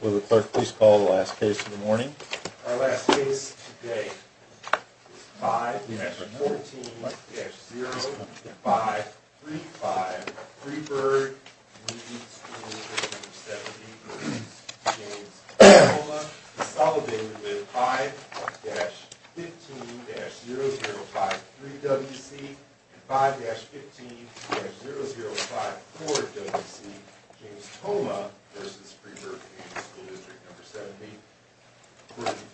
Will the clerk please call the last case of the morning? Our last case today is 5-14-0535 Freeburg Community School District 70 v. James Tomah consolidated with 5-15-0053 W.C. and 5-15-0054 W.C. James Tomah v. Freeburg Community School District 70.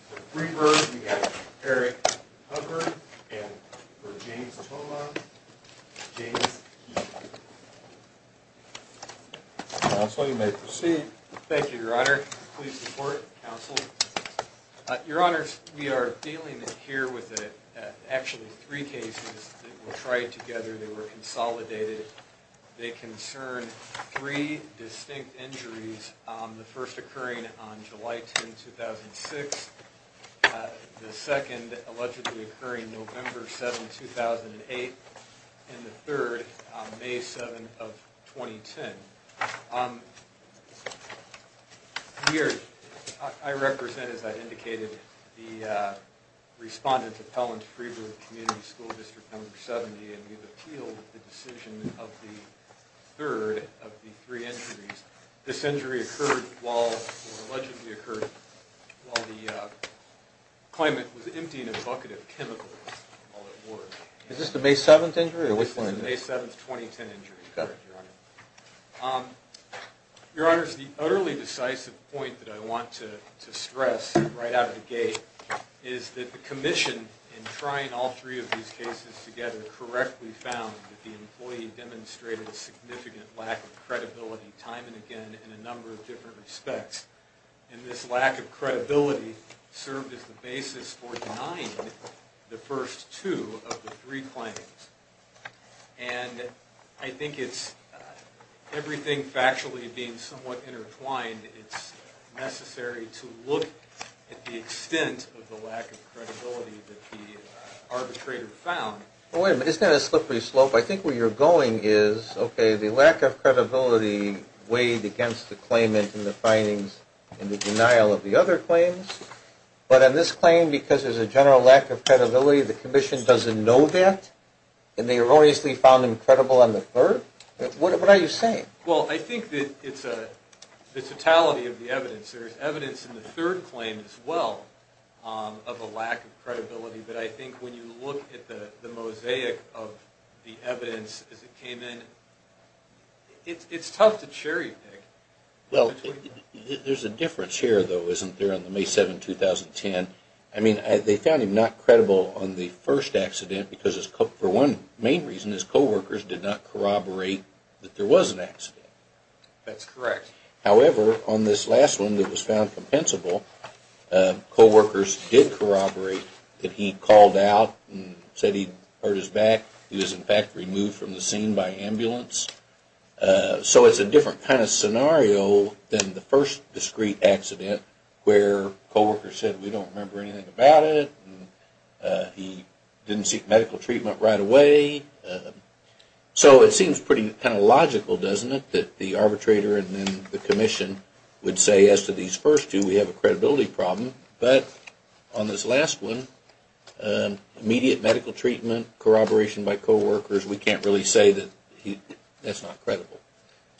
For Freeburg, we have Eric Hubbard and for James Tomah, James Heath. Counsel, you may proceed. Thank you, Your Honor. Please report, Counsel. Your Honors, we are dealing here with actually three cases that were tried together. They were consolidated. They concern three distinct injuries. The first occurring on July 10, 2006. The second allegedly occurring November 7, 2008. And the third, May 7, 2010. Here, I represent, as I indicated, the respondents appellant to Freeburg Community School District 70. And we've appealed the decision of the third of the three injuries. This injury occurred while, or allegedly occurred, while the claimant was emptying a bucket of chemicals while at work. Is this the May 7th injury, or which one? This is the May 7th, 2010 injury, Your Honor. Your Honors, the utterly decisive point that I want to stress right out of the gate is that the Commission, in trying all three of these cases together, correctly found that the employee demonstrated a significant lack of credibility, time and again, in a number of different respects. And this lack of credibility served as the basis for denying the first two of the three claims. And I think it's, everything factually being somewhat intertwined, it's necessary to look at the extent of the lack of credibility that the arbitrator found. Wait a minute, isn't that a slippery slope? I think where you're going is, okay, the lack of credibility weighed against the claimant and the findings and the denial of the other claims. But on this claim, because there's a general lack of credibility, the Commission doesn't know that? And they erroneously found him credible on the third? What are you saying? Well, I think that it's the totality of the evidence. There's evidence in the third claim as well of a lack of credibility. But I think when you look at the mosaic of the evidence as it came in, it's tough to cherry pick. Well, there's a difference here, though, isn't there, on the May 7, 2010. I mean, they found him not credible on the first accident because, for one main reason, his coworkers did not corroborate that there was an accident. That's correct. However, on this last one that was found compensable, coworkers did corroborate that he called out and said he hurt his back. He was, in fact, removed from the scene by ambulance. So it's a different kind of scenario than the first discrete accident where coworkers said, we don't remember anything about it. He didn't seek medical treatment right away. So it seems pretty kind of logical, doesn't it, that the arbitrator and then the commission would say, as to these first two, we have a credibility problem. But on this last one, immediate medical treatment, corroboration by coworkers, we can't really say that that's not credible.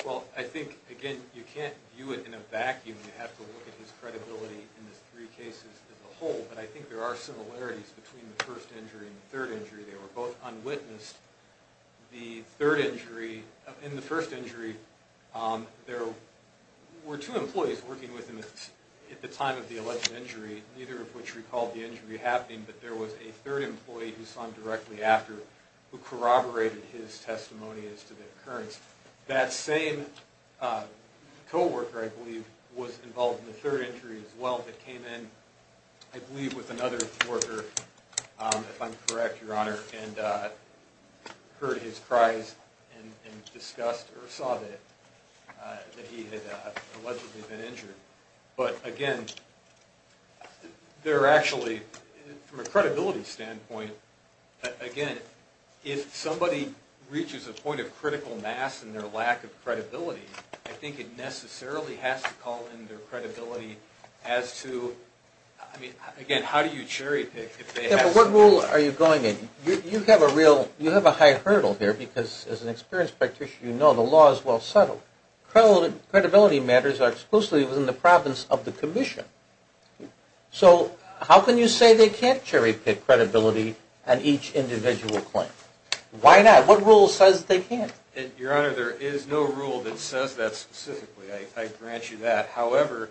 Well, I think, again, you can't view it in a vacuum. You have to look at his credibility in the three cases as a whole. But I think there are similarities between the first injury and the third injury. They were both unwitnessed. The third injury, in the first injury, there were two employees working with him at the time of the alleged injury, neither of which recalled the injury happening, but there was a third employee who saw him directly after who corroborated his testimony as to the occurrence. That same coworker, I believe, was involved in the third injury as well, but came in, I believe, with another worker, if I'm correct, Your Honor, and heard his cries and discussed or saw that he had allegedly been injured. But, again, there are actually, from a credibility standpoint, again, if somebody reaches a point of critical mass in their lack of credibility, I think it necessarily has to call in their credibility as to, I mean, again, how do you cherry pick? What rule are you going in? You have a high hurdle here because, as an experienced practitioner, you know the law is well settled. Credibility matters are exclusively within the province of the commission. So how can you say they can't cherry pick credibility on each individual claim? Why not? What rule says they can't? Your Honor, there is no rule that says that specifically. I grant you that. However,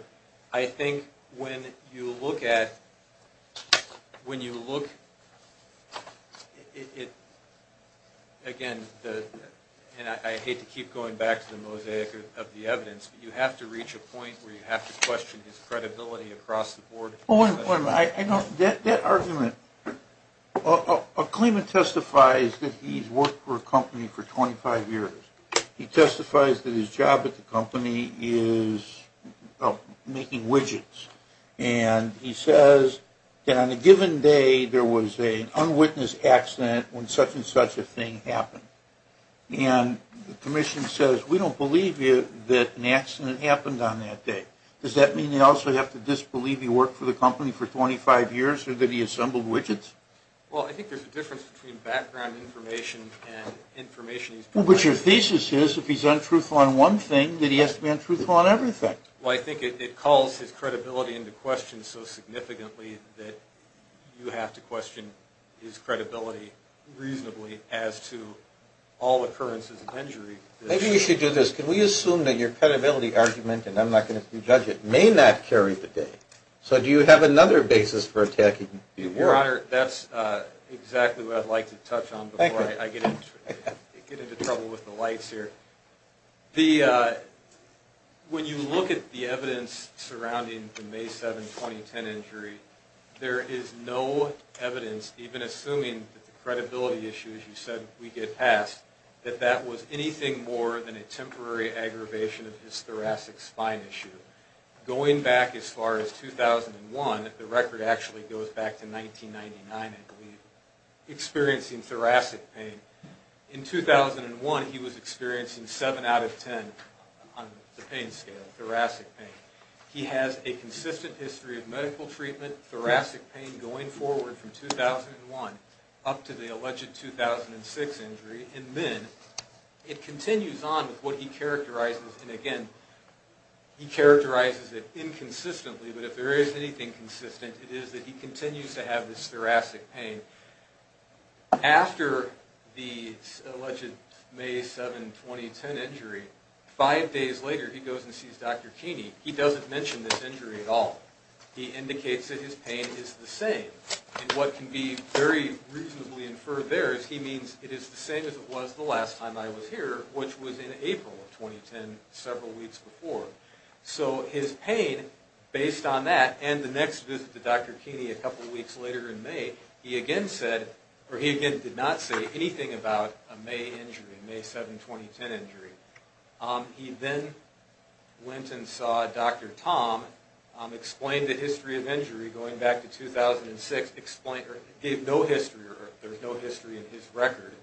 I think when you look at, when you look, again, and I hate to keep going back to the mosaic of the evidence, but you have to reach a point where you have to question his credibility across the board. That argument, a claimant testifies that he's worked for a company for 25 years. He testifies that his job at the company is making widgets. And he says that on a given day there was an unwitnessed accident when such and such a thing happened. And the commission says, we don't believe you that an accident happened on that day. Does that mean they also have to disbelieve he worked for the company for 25 years or that he assembled widgets? Well, I think there's a difference between background information and information he's provided. Well, but your thesis is if he's untruthful on one thing, that he has to be untruthful on everything. Well, I think it calls his credibility into question so significantly that you have to question his credibility reasonably as to all occurrences of injury. Maybe we should do this. Can we assume that your credibility argument, and I'm not going to prejudge it, may not carry the day? So do you have another basis for attacking your work? Your Honor, that's exactly what I'd like to touch on before I get into trouble with the lights here. When you look at the evidence surrounding the May 7, 2010 injury, there is no evidence, even assuming that the credibility issue, as you said, we get past, that that was anything more than a temporary aggravation of his thoracic spine issue. Going back as far as 2001, the record actually goes back to 1999, I believe, experiencing thoracic pain. In 2001, he was experiencing 7 out of 10 on the pain scale, thoracic pain. He has a consistent history of medical treatment, thoracic pain going forward from 2001 up to the alleged 2006 injury, and then it continues on with what he characterizes, and again, he characterizes it inconsistently, but if there is anything consistent, it is that he continues to have this thoracic pain. After the alleged May 7, 2010 injury, five days later, he goes and sees Dr. Keeney. He doesn't mention this injury at all. He indicates that his pain is the same, and what can be very reasonably inferred there is he means it is the same as it was the last time I was here, which was in April of 2010, several weeks before. So his pain, based on that, and the next visit to Dr. Keeney a couple weeks later in May, he again said, or he again did not say anything about a May injury, May 7, 2010 injury. He then went and saw Dr. Tom, explained the history of injury going back to 2006, gave no history, or there's no history in his record,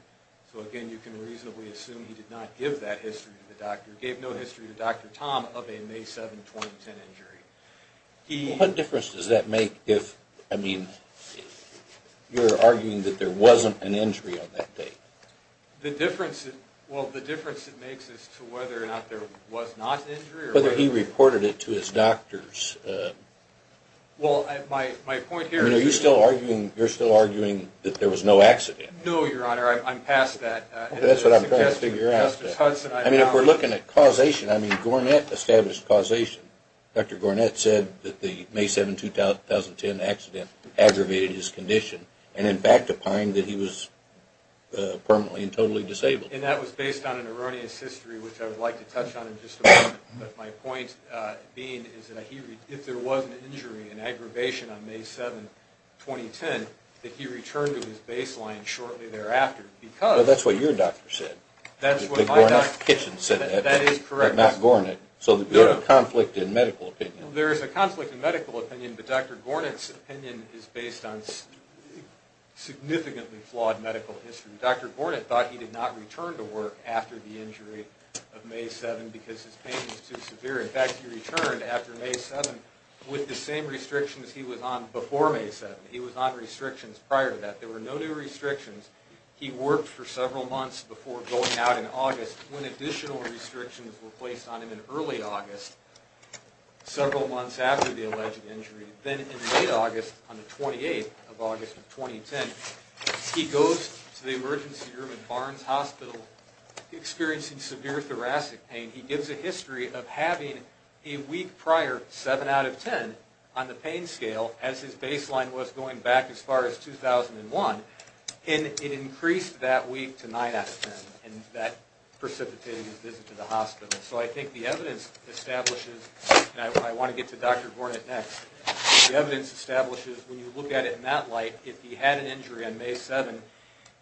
so again, you can reasonably assume he did not give that history to the doctor, gave no history to Dr. Tom of a May 7, 2010 injury. He... What difference does that make if, I mean, you're arguing that there wasn't an injury on that day? The difference, well, the difference it makes is to whether or not there was not an injury or whether... Whether he reported it to his doctors. Well, my point here is... Are you still arguing, you're still arguing that there was no accident? No, Your Honor, I'm past that. That's what I'm trying to figure out. I mean, if we're looking at causation, I mean, Gornet established causation. Dr. Gornet said that the May 7, 2010 accident aggravated his condition and in fact opined that he was permanently and totally disabled. And that was based on an erroneous history, which I would like to touch on in just a moment, but my point being is that if there was an injury, an aggravation on May 7, 2010, that he returned to his baseline shortly thereafter because... But Gornet's kitchen said that, but not Gornet. So there's a conflict in medical opinion. There is a conflict in medical opinion, but Dr. Gornet's opinion is based on significantly flawed medical history. Dr. Gornet thought he did not return to work after the injury of May 7 because his pain was too severe. In fact, he returned after May 7 with the same restrictions he was on before May 7. He was on restrictions prior to that. There were no new restrictions. He worked for several months before going out in August when additional restrictions were placed on him in early August, several months after the alleged injury. Then in late August, on the 28th of August, 2010, he goes to the emergency room at Barnes Hospital experiencing severe thoracic pain. He gives a history of having a week prior 7 out of 10 on the pain scale as his baseline was going back as far as 2001. And it increased that week to 9 out of 10, and that precipitated his visit to the hospital. So I think the evidence establishes, and I want to get to Dr. Gornet next, the evidence establishes when you look at it in that light, if he had an injury on May 7,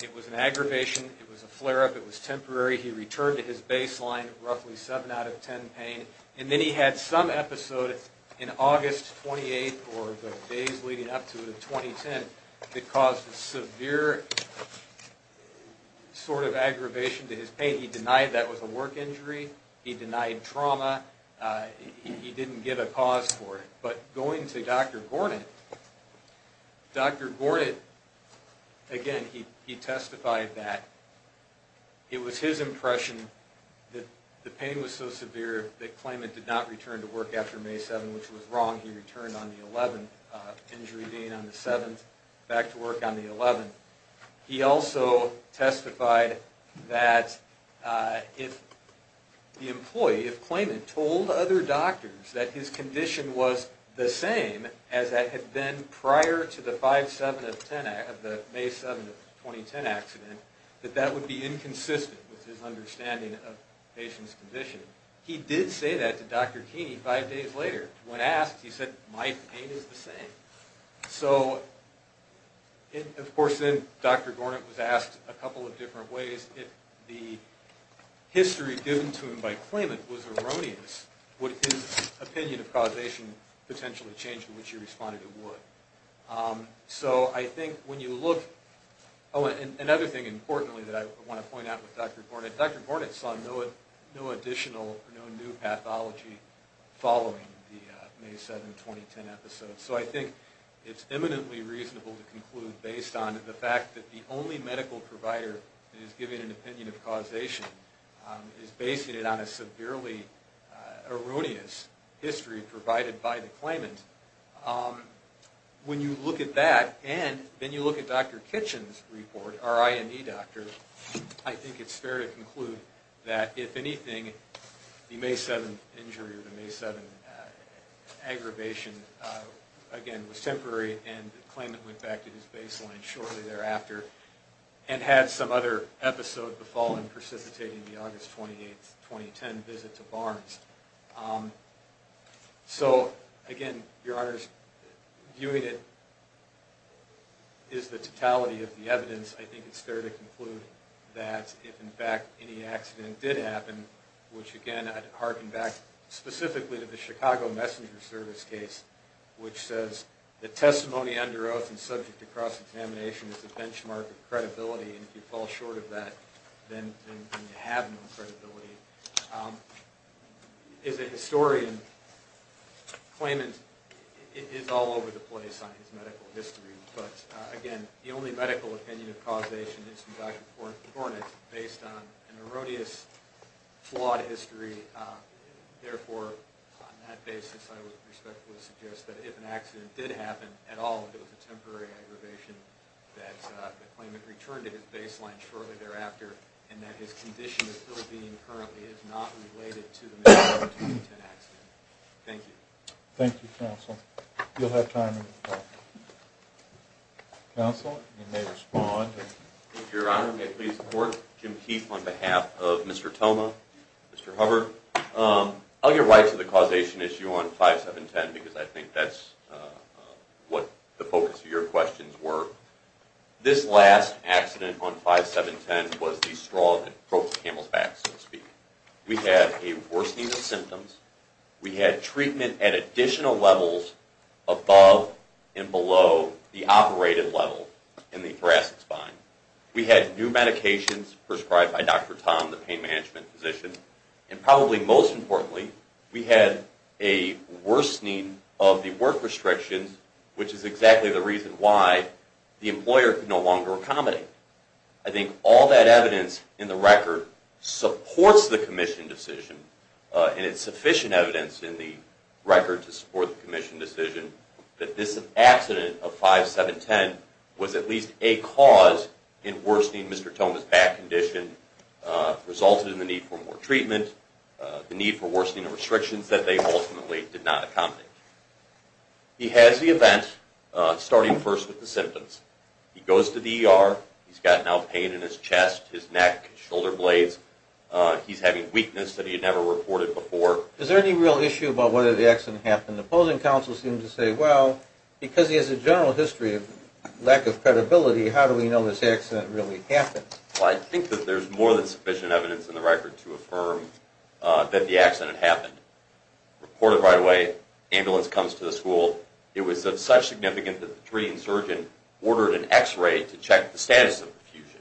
it was an aggravation, it was a flare-up, it was temporary. He returned to his baseline, roughly 7 out of 10 pain. And then he had some episode in August 28, or the days leading up to it, of 2010, that caused a severe sort of aggravation to his pain. He denied that was a work injury. He denied trauma. He didn't give a cause for it. But going to Dr. Gornet, Dr. Gornet, again, he testified that it was his impression that the pain was so severe that Klayman did not return to work after May 7, which was wrong. He returned on the 11th, injury being on the 7th, back to work on the 11th. He also testified that if the employee, if Klayman told other doctors that his condition was the same as it had been prior to the May 7, 2010 accident, that that would be inconsistent with his understanding of the patient's condition. He did say that to Dr. Keeney five days later. When asked, he said, my pain is the same. So, of course, then Dr. Gornet was asked a couple of different ways. If the history given to him by Klayman was erroneous, would his opinion of causation potentially change to which he responded it would? So I think when you look, oh, and another thing importantly that I want to point out with Dr. Gornet, Dr. Gornet saw no additional or no new pathology following the May 7, 2010 episode. So I think it's eminently reasonable to conclude based on the fact that the only medical provider that is giving an opinion of causation is basing it on a severely erroneous history provided by the Klayman. When you look at that and then you look at Dr. Kitchen's report, our IND doctor, I think it's fair to conclude that, if anything, the May 7 injury or the May 7 aggravation, again, was temporary and Klayman went back to his baseline shortly thereafter and had some other episode the following precipitating the August 28, 2010 visit to Barnes. So, again, Your Honors, viewing it as the totality of the evidence, I think it's fair to conclude that if in fact any accident did happen, which again I'd hearken back specifically to the Chicago Messenger Service case, which says the testimony under oath and subject to cross-examination is a benchmark of credibility and if you fall short of that, then you have no credibility. As a historian, Klayman is all over the place on his medical history, but, again, the only medical opinion of causation is from Dr. Cornett based on an erroneous, flawed history. Therefore, on that basis, I would respectfully suggest that if an accident did happen at all, if it was a temporary aggravation, that the Klayman return to his baseline shortly thereafter and that his condition as it is being currently is not related to the May 17, 2010 accident. Thank you. Thank you, Counsel. You'll have time to talk. Counsel, you may respond. Thank you, Your Honor. May I please report? Jim Heath on behalf of Mr. Thoma, Mr. Hubbard. I'll get right to the causation issue on 5-7-10 because I think that's what the focus of your questions were. This last accident on 5-7-10 was the straw that broke the camel's back, so to speak. We had a worsening of symptoms. We had treatment at additional levels above and below the operated level in the thoracic spine. We had new medications prescribed by Dr. Tom, the pain management physician, and probably most importantly, we had a worsening of the work restrictions, which is exactly the reason why the employer could no longer accommodate. I think all that evidence in the record supports the commission decision, and it's sufficient evidence in the record to support the commission decision, that this accident of 5-7-10 was at least a cause in worsening Mr. Thoma's back condition, resulted in the need for more treatment, the need for worsening of restrictions that they ultimately did not accommodate. He has the event starting first with the symptoms. He goes to the ER. He's got now pain in his chest, his neck, shoulder blades. He's having weakness that he had never reported before. Is there any real issue about whether the accident happened? The opposing counsel seemed to say, well, because he has a general history of lack of credibility, how do we know this accident really happened? Well, I think that there's more than sufficient evidence in the record to affirm that the accident happened. Reported right away. Ambulance comes to the school. It was of such significance that the treating surgeon ordered an X-ray to check the status of the fusion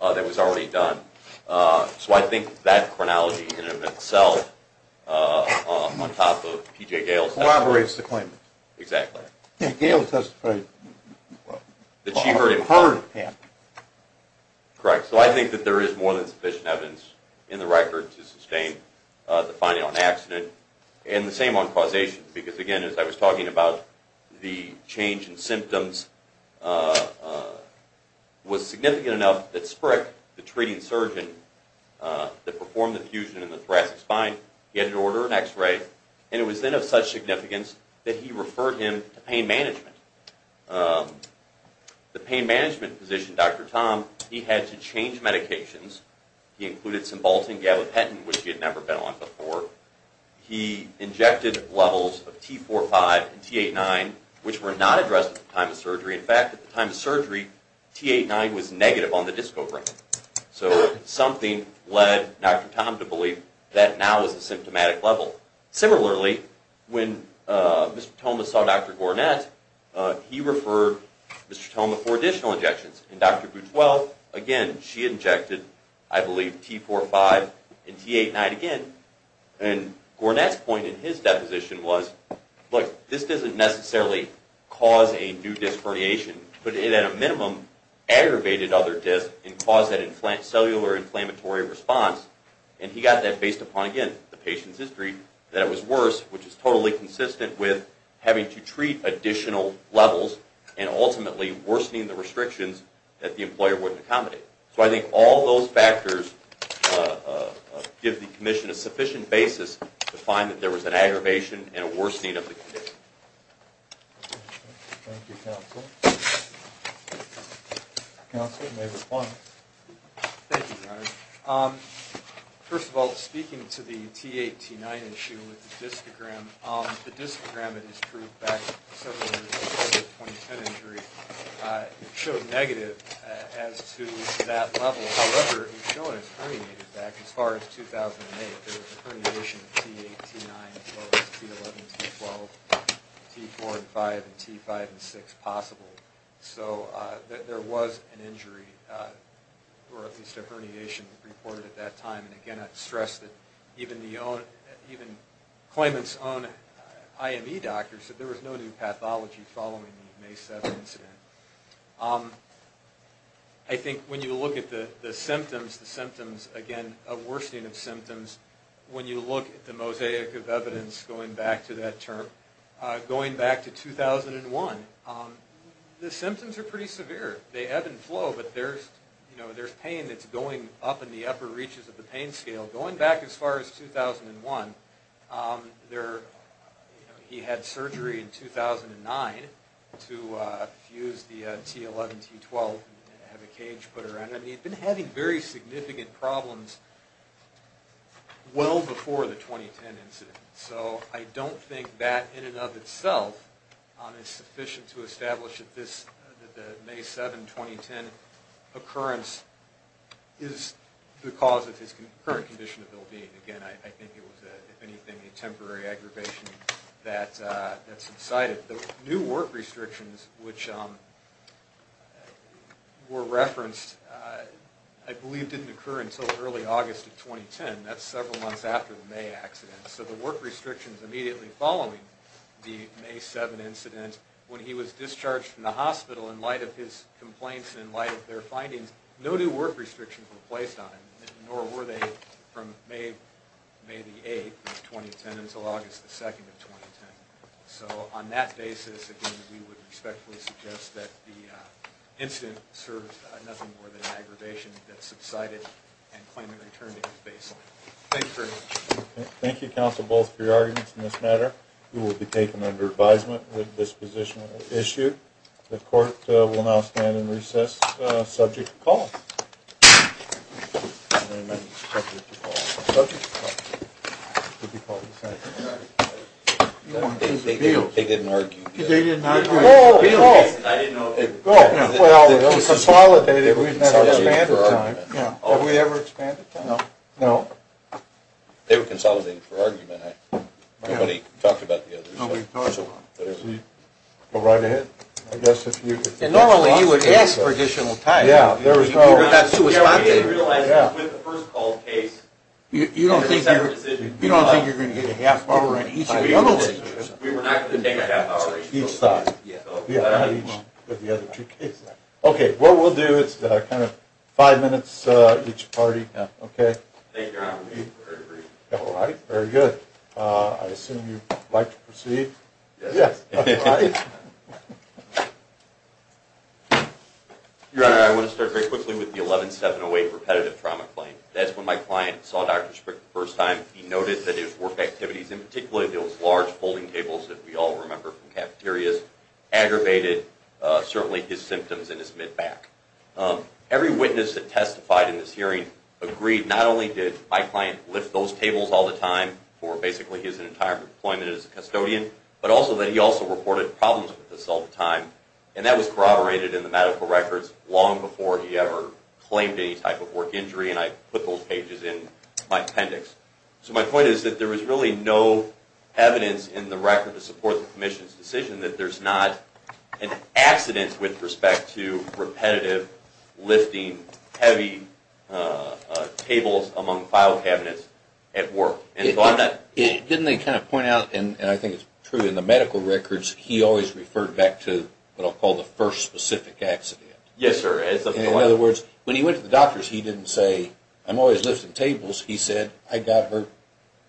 that was already done. So I think that chronology in and of itself, on top of P.J. Gail's testimony. Corroborates the claim. Exactly. Gail testified that she heard it happen. Correct. So I think that there is more than sufficient evidence in the record to sustain the finding on accident. And the same on causation. Because, again, as I was talking about, the change in symptoms was significant enough that Sprick, the treating surgeon that performed the fusion in the thoracic spine, he had to order an X-ray. And it was then of such significance that he referred him to pain management. The pain management physician, Dr. Tom, he had to change medications. He included some Baltan gabapentin, which he had never been on before. He injected levels of T45 and T89, which were not addressed at the time of surgery. In fact, at the time of surgery, T89 was negative on the disco brain. So something led Dr. Tom to believe that now was the symptomatic level. Similarly, when Mr. Tomas saw Dr. Gornet, he referred Mr. Toma for additional injections. And Dr. Boutreau, again, she injected, I believe, T45 and T89 again. And Gornet's point in his deposition was, look, this doesn't necessarily cause a new disc herniation, but it at a minimum aggravated other discs and caused that cellular inflammatory response. And he got that based upon, again, the patient's history, that it was worse, which is totally consistent with having to treat additional levels and ultimately worsening the restrictions that the employer wouldn't accommodate. So I think all those factors give the commission a sufficient basis to find that there was an aggravation and a worsening of the condition. Thank you, counsel. Counsel, you may respond. Thank you, Dr. Garnett. First of all, speaking to the T8, T9 issue with the discogram, the discogram that was proved back several years before the 2010 injury showed negative as to that level. However, it was shown it was herniated back as far as 2008. There was a herniation of T8, T9 as far as T11, T12, T4 and 5 and T5 and 6 possible. So there was an injury or at least a herniation reported at that time. And, again, I'd stress that even Klayman's own IME doctor said there was no new pathology following the May 7 incident. I think when you look at the symptoms, the symptoms, again, a worsening of symptoms, when you look at the mosaic of evidence going back to that term, going back to 2001, the symptoms are pretty severe. They ebb and flow, but there's pain that's going up in the upper reaches of the pain scale. Going back as far as 2001, he had surgery in 2009 to fuse the T11, T12 and have a cage put around it. He'd been having very significant problems well before the 2010 incident. So I don't think that in and of itself is sufficient to establish that the May 7, 2010 occurrence is the cause of his current condition of ill-being. Again, I think it was, if anything, a temporary aggravation that subsided. The new work restrictions, which were referenced, I believe didn't occur until early August of 2010. That's several months after the May accident. So the work restrictions immediately following the May 7 incident, when he was discharged from the hospital in light of his complaints and in light of their findings, no new work restrictions were placed on him, nor were they from May 8, 2010 until August 2, 2010. So on that basis, again, we would respectfully suggest that the incident serves nothing more than an aggravation that subsided and claimant returned to his baseline. Thank you very much. Thank you, counsel, both for your arguments in this matter. You will be taken under advisement that this position is issued. The court will now stand in recess subject to call. They didn't argue. They didn't argue. No, no. I didn't know. Well, it was consolidated. We never expanded time. Did we ever expand the time? No. No. They were consolidated for argument. Nobody talked about the other side. Nobody talked about it. Go right ahead. Normally, you would ask for additional time. Yeah, there was no. You realized with the first call case. You don't think you're going to get a half hour in each of the other cases. We were not going to take a half hour each time. Yeah, each of the other two cases. Okay, what we'll do is kind of five minutes each party. Okay. Thank you, Your Honor. All right. Very good. I assume you'd like to proceed? Yes. All right. Your Honor, I want to start very quickly with the 11708 repetitive trauma claim. That's when my client saw Dr. Sprick the first time. He noted that his work activities, in particular those large folding tables that we all remember from cafeterias, aggravated certainly his symptoms in his mid-back. Every witness that testified in this hearing agreed not only did my client lift those tables all the time for basically his entire employment as a custodian, but also that he also reported problems with this all the time, and that was corroborated in the medical records long before he ever claimed any type of work injury, and I put those pages in my appendix. So my point is that there was really no evidence in the record to support the commission's decision that there's not an accident with respect to repetitive lifting heavy tables among file cabinets at work. Didn't they kind of point out, and I think it's true in the medical records, he always referred back to what I'll call the first specific accident? Yes, sir. In other words, when he went to the doctors, he didn't say, I'm always lifting tables. He said, I got hurt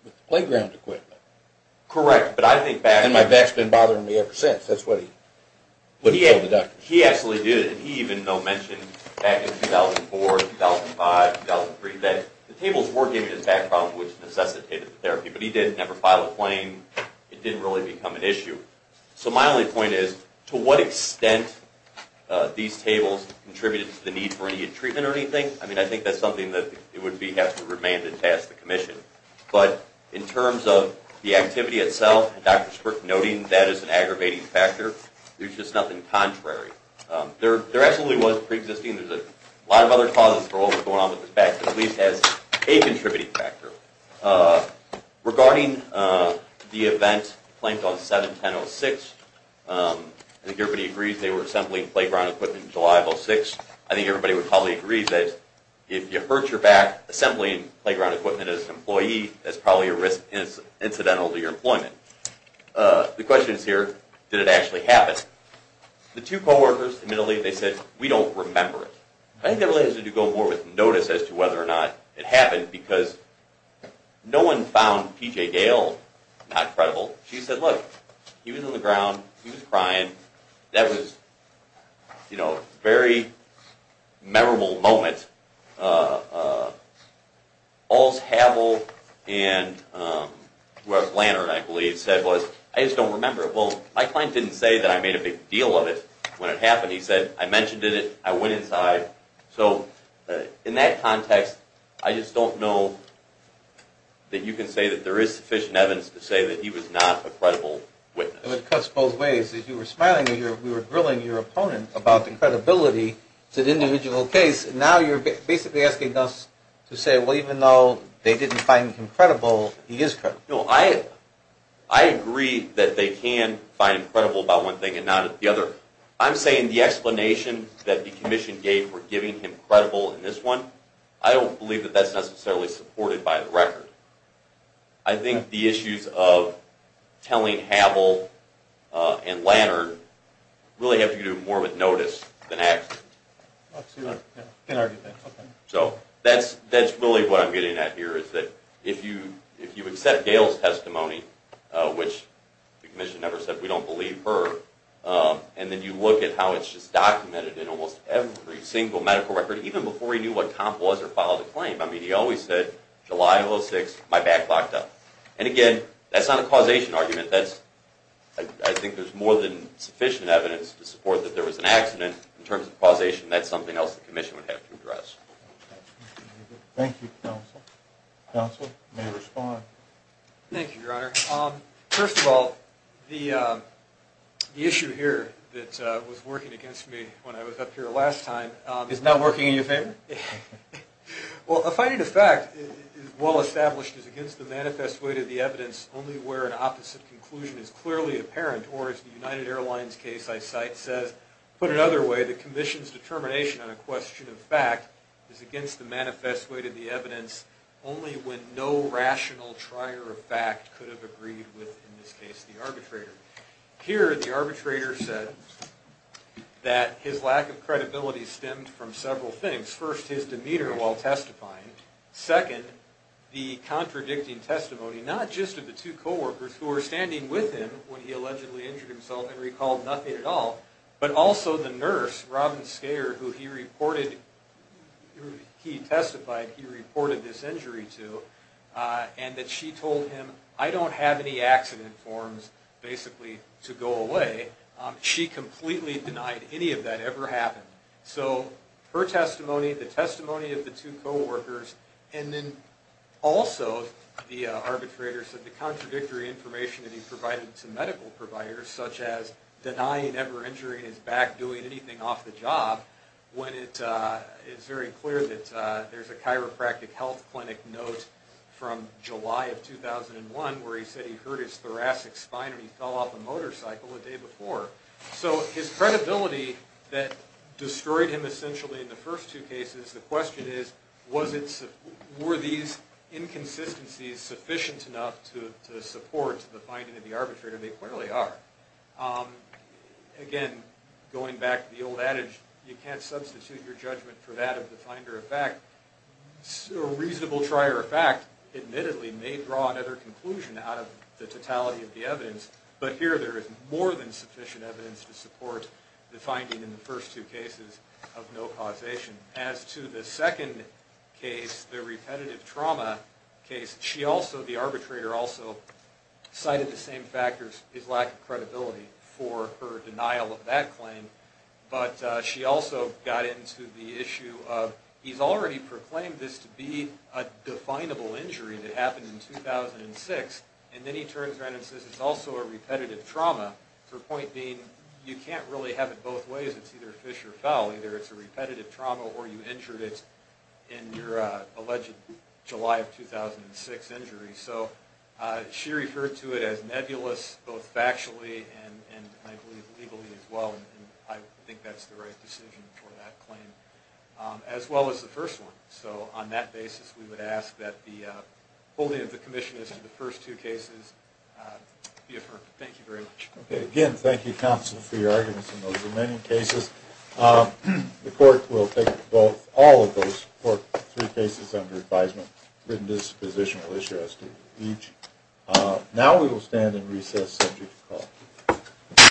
with the playground equipment. Correct. And my back's been bothering me ever since. That's what he told the doctors. He absolutely did, and he even mentioned back in 2004, 2005, 2003, that the tables were giving him back problems which necessitated the therapy, but he didn't ever file a claim. It didn't really become an issue. So my only point is, to what extent these tables contributed to the need for immediate treatment or anything, I mean, I think that's something that would have to remain to task the commission. But in terms of the activity itself, and Dr. Sprick noting that as an aggravating factor, there's just nothing contrary. There absolutely was preexisting. There's a lot of other causes for what was going on with his back, but at least as a contributing factor. Regarding the event claimed on 7-10-06, I think everybody agrees they were assembling playground equipment on July 6th. I think everybody would probably agree that if you hurt your back assembling playground equipment as an employee, that's probably a risk incidental to your employment. The question is here, did it actually happen? The two co-workers admittedly, they said, we don't remember it. I think that really has to do more with notice as to whether or not it happened, because no one found P.J. Gale not credible. She said, look, he was on the ground. He was crying. That was a very memorable moment. Alls Havell and Wes Lantern, I believe, said, I just don't remember it. Well, my client didn't say that I made a big deal of it when it happened. He said, I mentioned it. I went inside. So in that context, I just don't know that you can say that there is sufficient evidence to say that he was not a credible witness. It cuts both ways. You were smiling when you were grilling your opponent about the credibility to the individual case. Now you're basically asking us to say, well, even though they didn't find him credible, he is credible. I agree that they can find him credible about one thing and not the other. I'm saying the explanation that the commission gave for giving him credible in this one, I don't believe that that's necessarily supported by the record. I think the issues of telling Havell and Lantern really have to do more with notice than action. So that's really what I'm getting at here is that if you accept Gail's testimony, which the commission never said we don't believe her, and then you look at how it's just documented in almost every single medical record, even before he knew what Tom was or filed a claim. I mean, he always said, July of 2006, my back locked up. And again, that's not a causation argument. I think there's more than sufficient evidence to support that there was an accident. In terms of causation, that's something else the commission would have to address. Thank you, counsel. Counsel, you may respond. Thank you, Your Honor. First of all, the issue here that was working against me when I was up here last time is not working in your favor? Well, a finding of fact, well established, is against the manifest way to the evidence only where an opposite conclusion is clearly apparent. Or as the United Airlines case I cite says, put another way, the commission's determination on a question of fact is against the manifest way to the evidence only when no rational trier of fact could have agreed with, in this case, the arbitrator. Here, the arbitrator said that his lack of credibility stemmed from several things. First, his demeanor while testifying. Second, the contradicting testimony, not just of the two co-workers who were standing with him when he allegedly injured himself and recalled nothing at all, but also the nurse, Robin Skaier, who he reported, he testified he reported this injury to, and that she told him, I don't have any accident forms, basically, to go away. She completely denied any of that ever happened. So her testimony, the testimony of the two co-workers, and then also the arbitrator said the contradictory information that he provided to medical providers, such as denying ever injuring his back, doing anything off the job, when it is very clear that there's a chiropractic health clinic note from July of 2001 where he said he hurt his thoracic spine when he fell off a motorcycle the day before. So his credibility that destroyed him essentially in the first two cases, the question is, were these inconsistencies sufficient enough to support the finding of the arbitrator? They clearly are. Again, going back to the old adage, you can't substitute your judgment for that of the finder of fact. A reasonable trier of fact, admittedly, may draw another conclusion out of the totality of the evidence, but here there is more than sufficient evidence to support the finding in the first two cases of no causation. As to the second case, the repetitive trauma case, she also, the arbitrator also, cited the same factors, his lack of credibility for her denial of that claim, but she also got into the issue of, he's already proclaimed this to be a definable injury that happened in 2006, and then he turns around and says it's also a repetitive trauma, her point being you can't really have it both ways, it's either a fish or a fowl, either it's a repetitive trauma or you injured it in your alleged July of 2006 injury. So she referred to it as nebulous both factually and I believe legally as well, and I think that's the right decision for that claim, as well as the first one. So on that basis, we would ask that the holding of the commission as to the first two cases be affirmed. Thank you very much. Again, thank you, counsel, for your arguments in those remaining cases. The court will take all of those three cases under advisement. Written disposition will issue as to each. Now we will stand and recess, subject to call.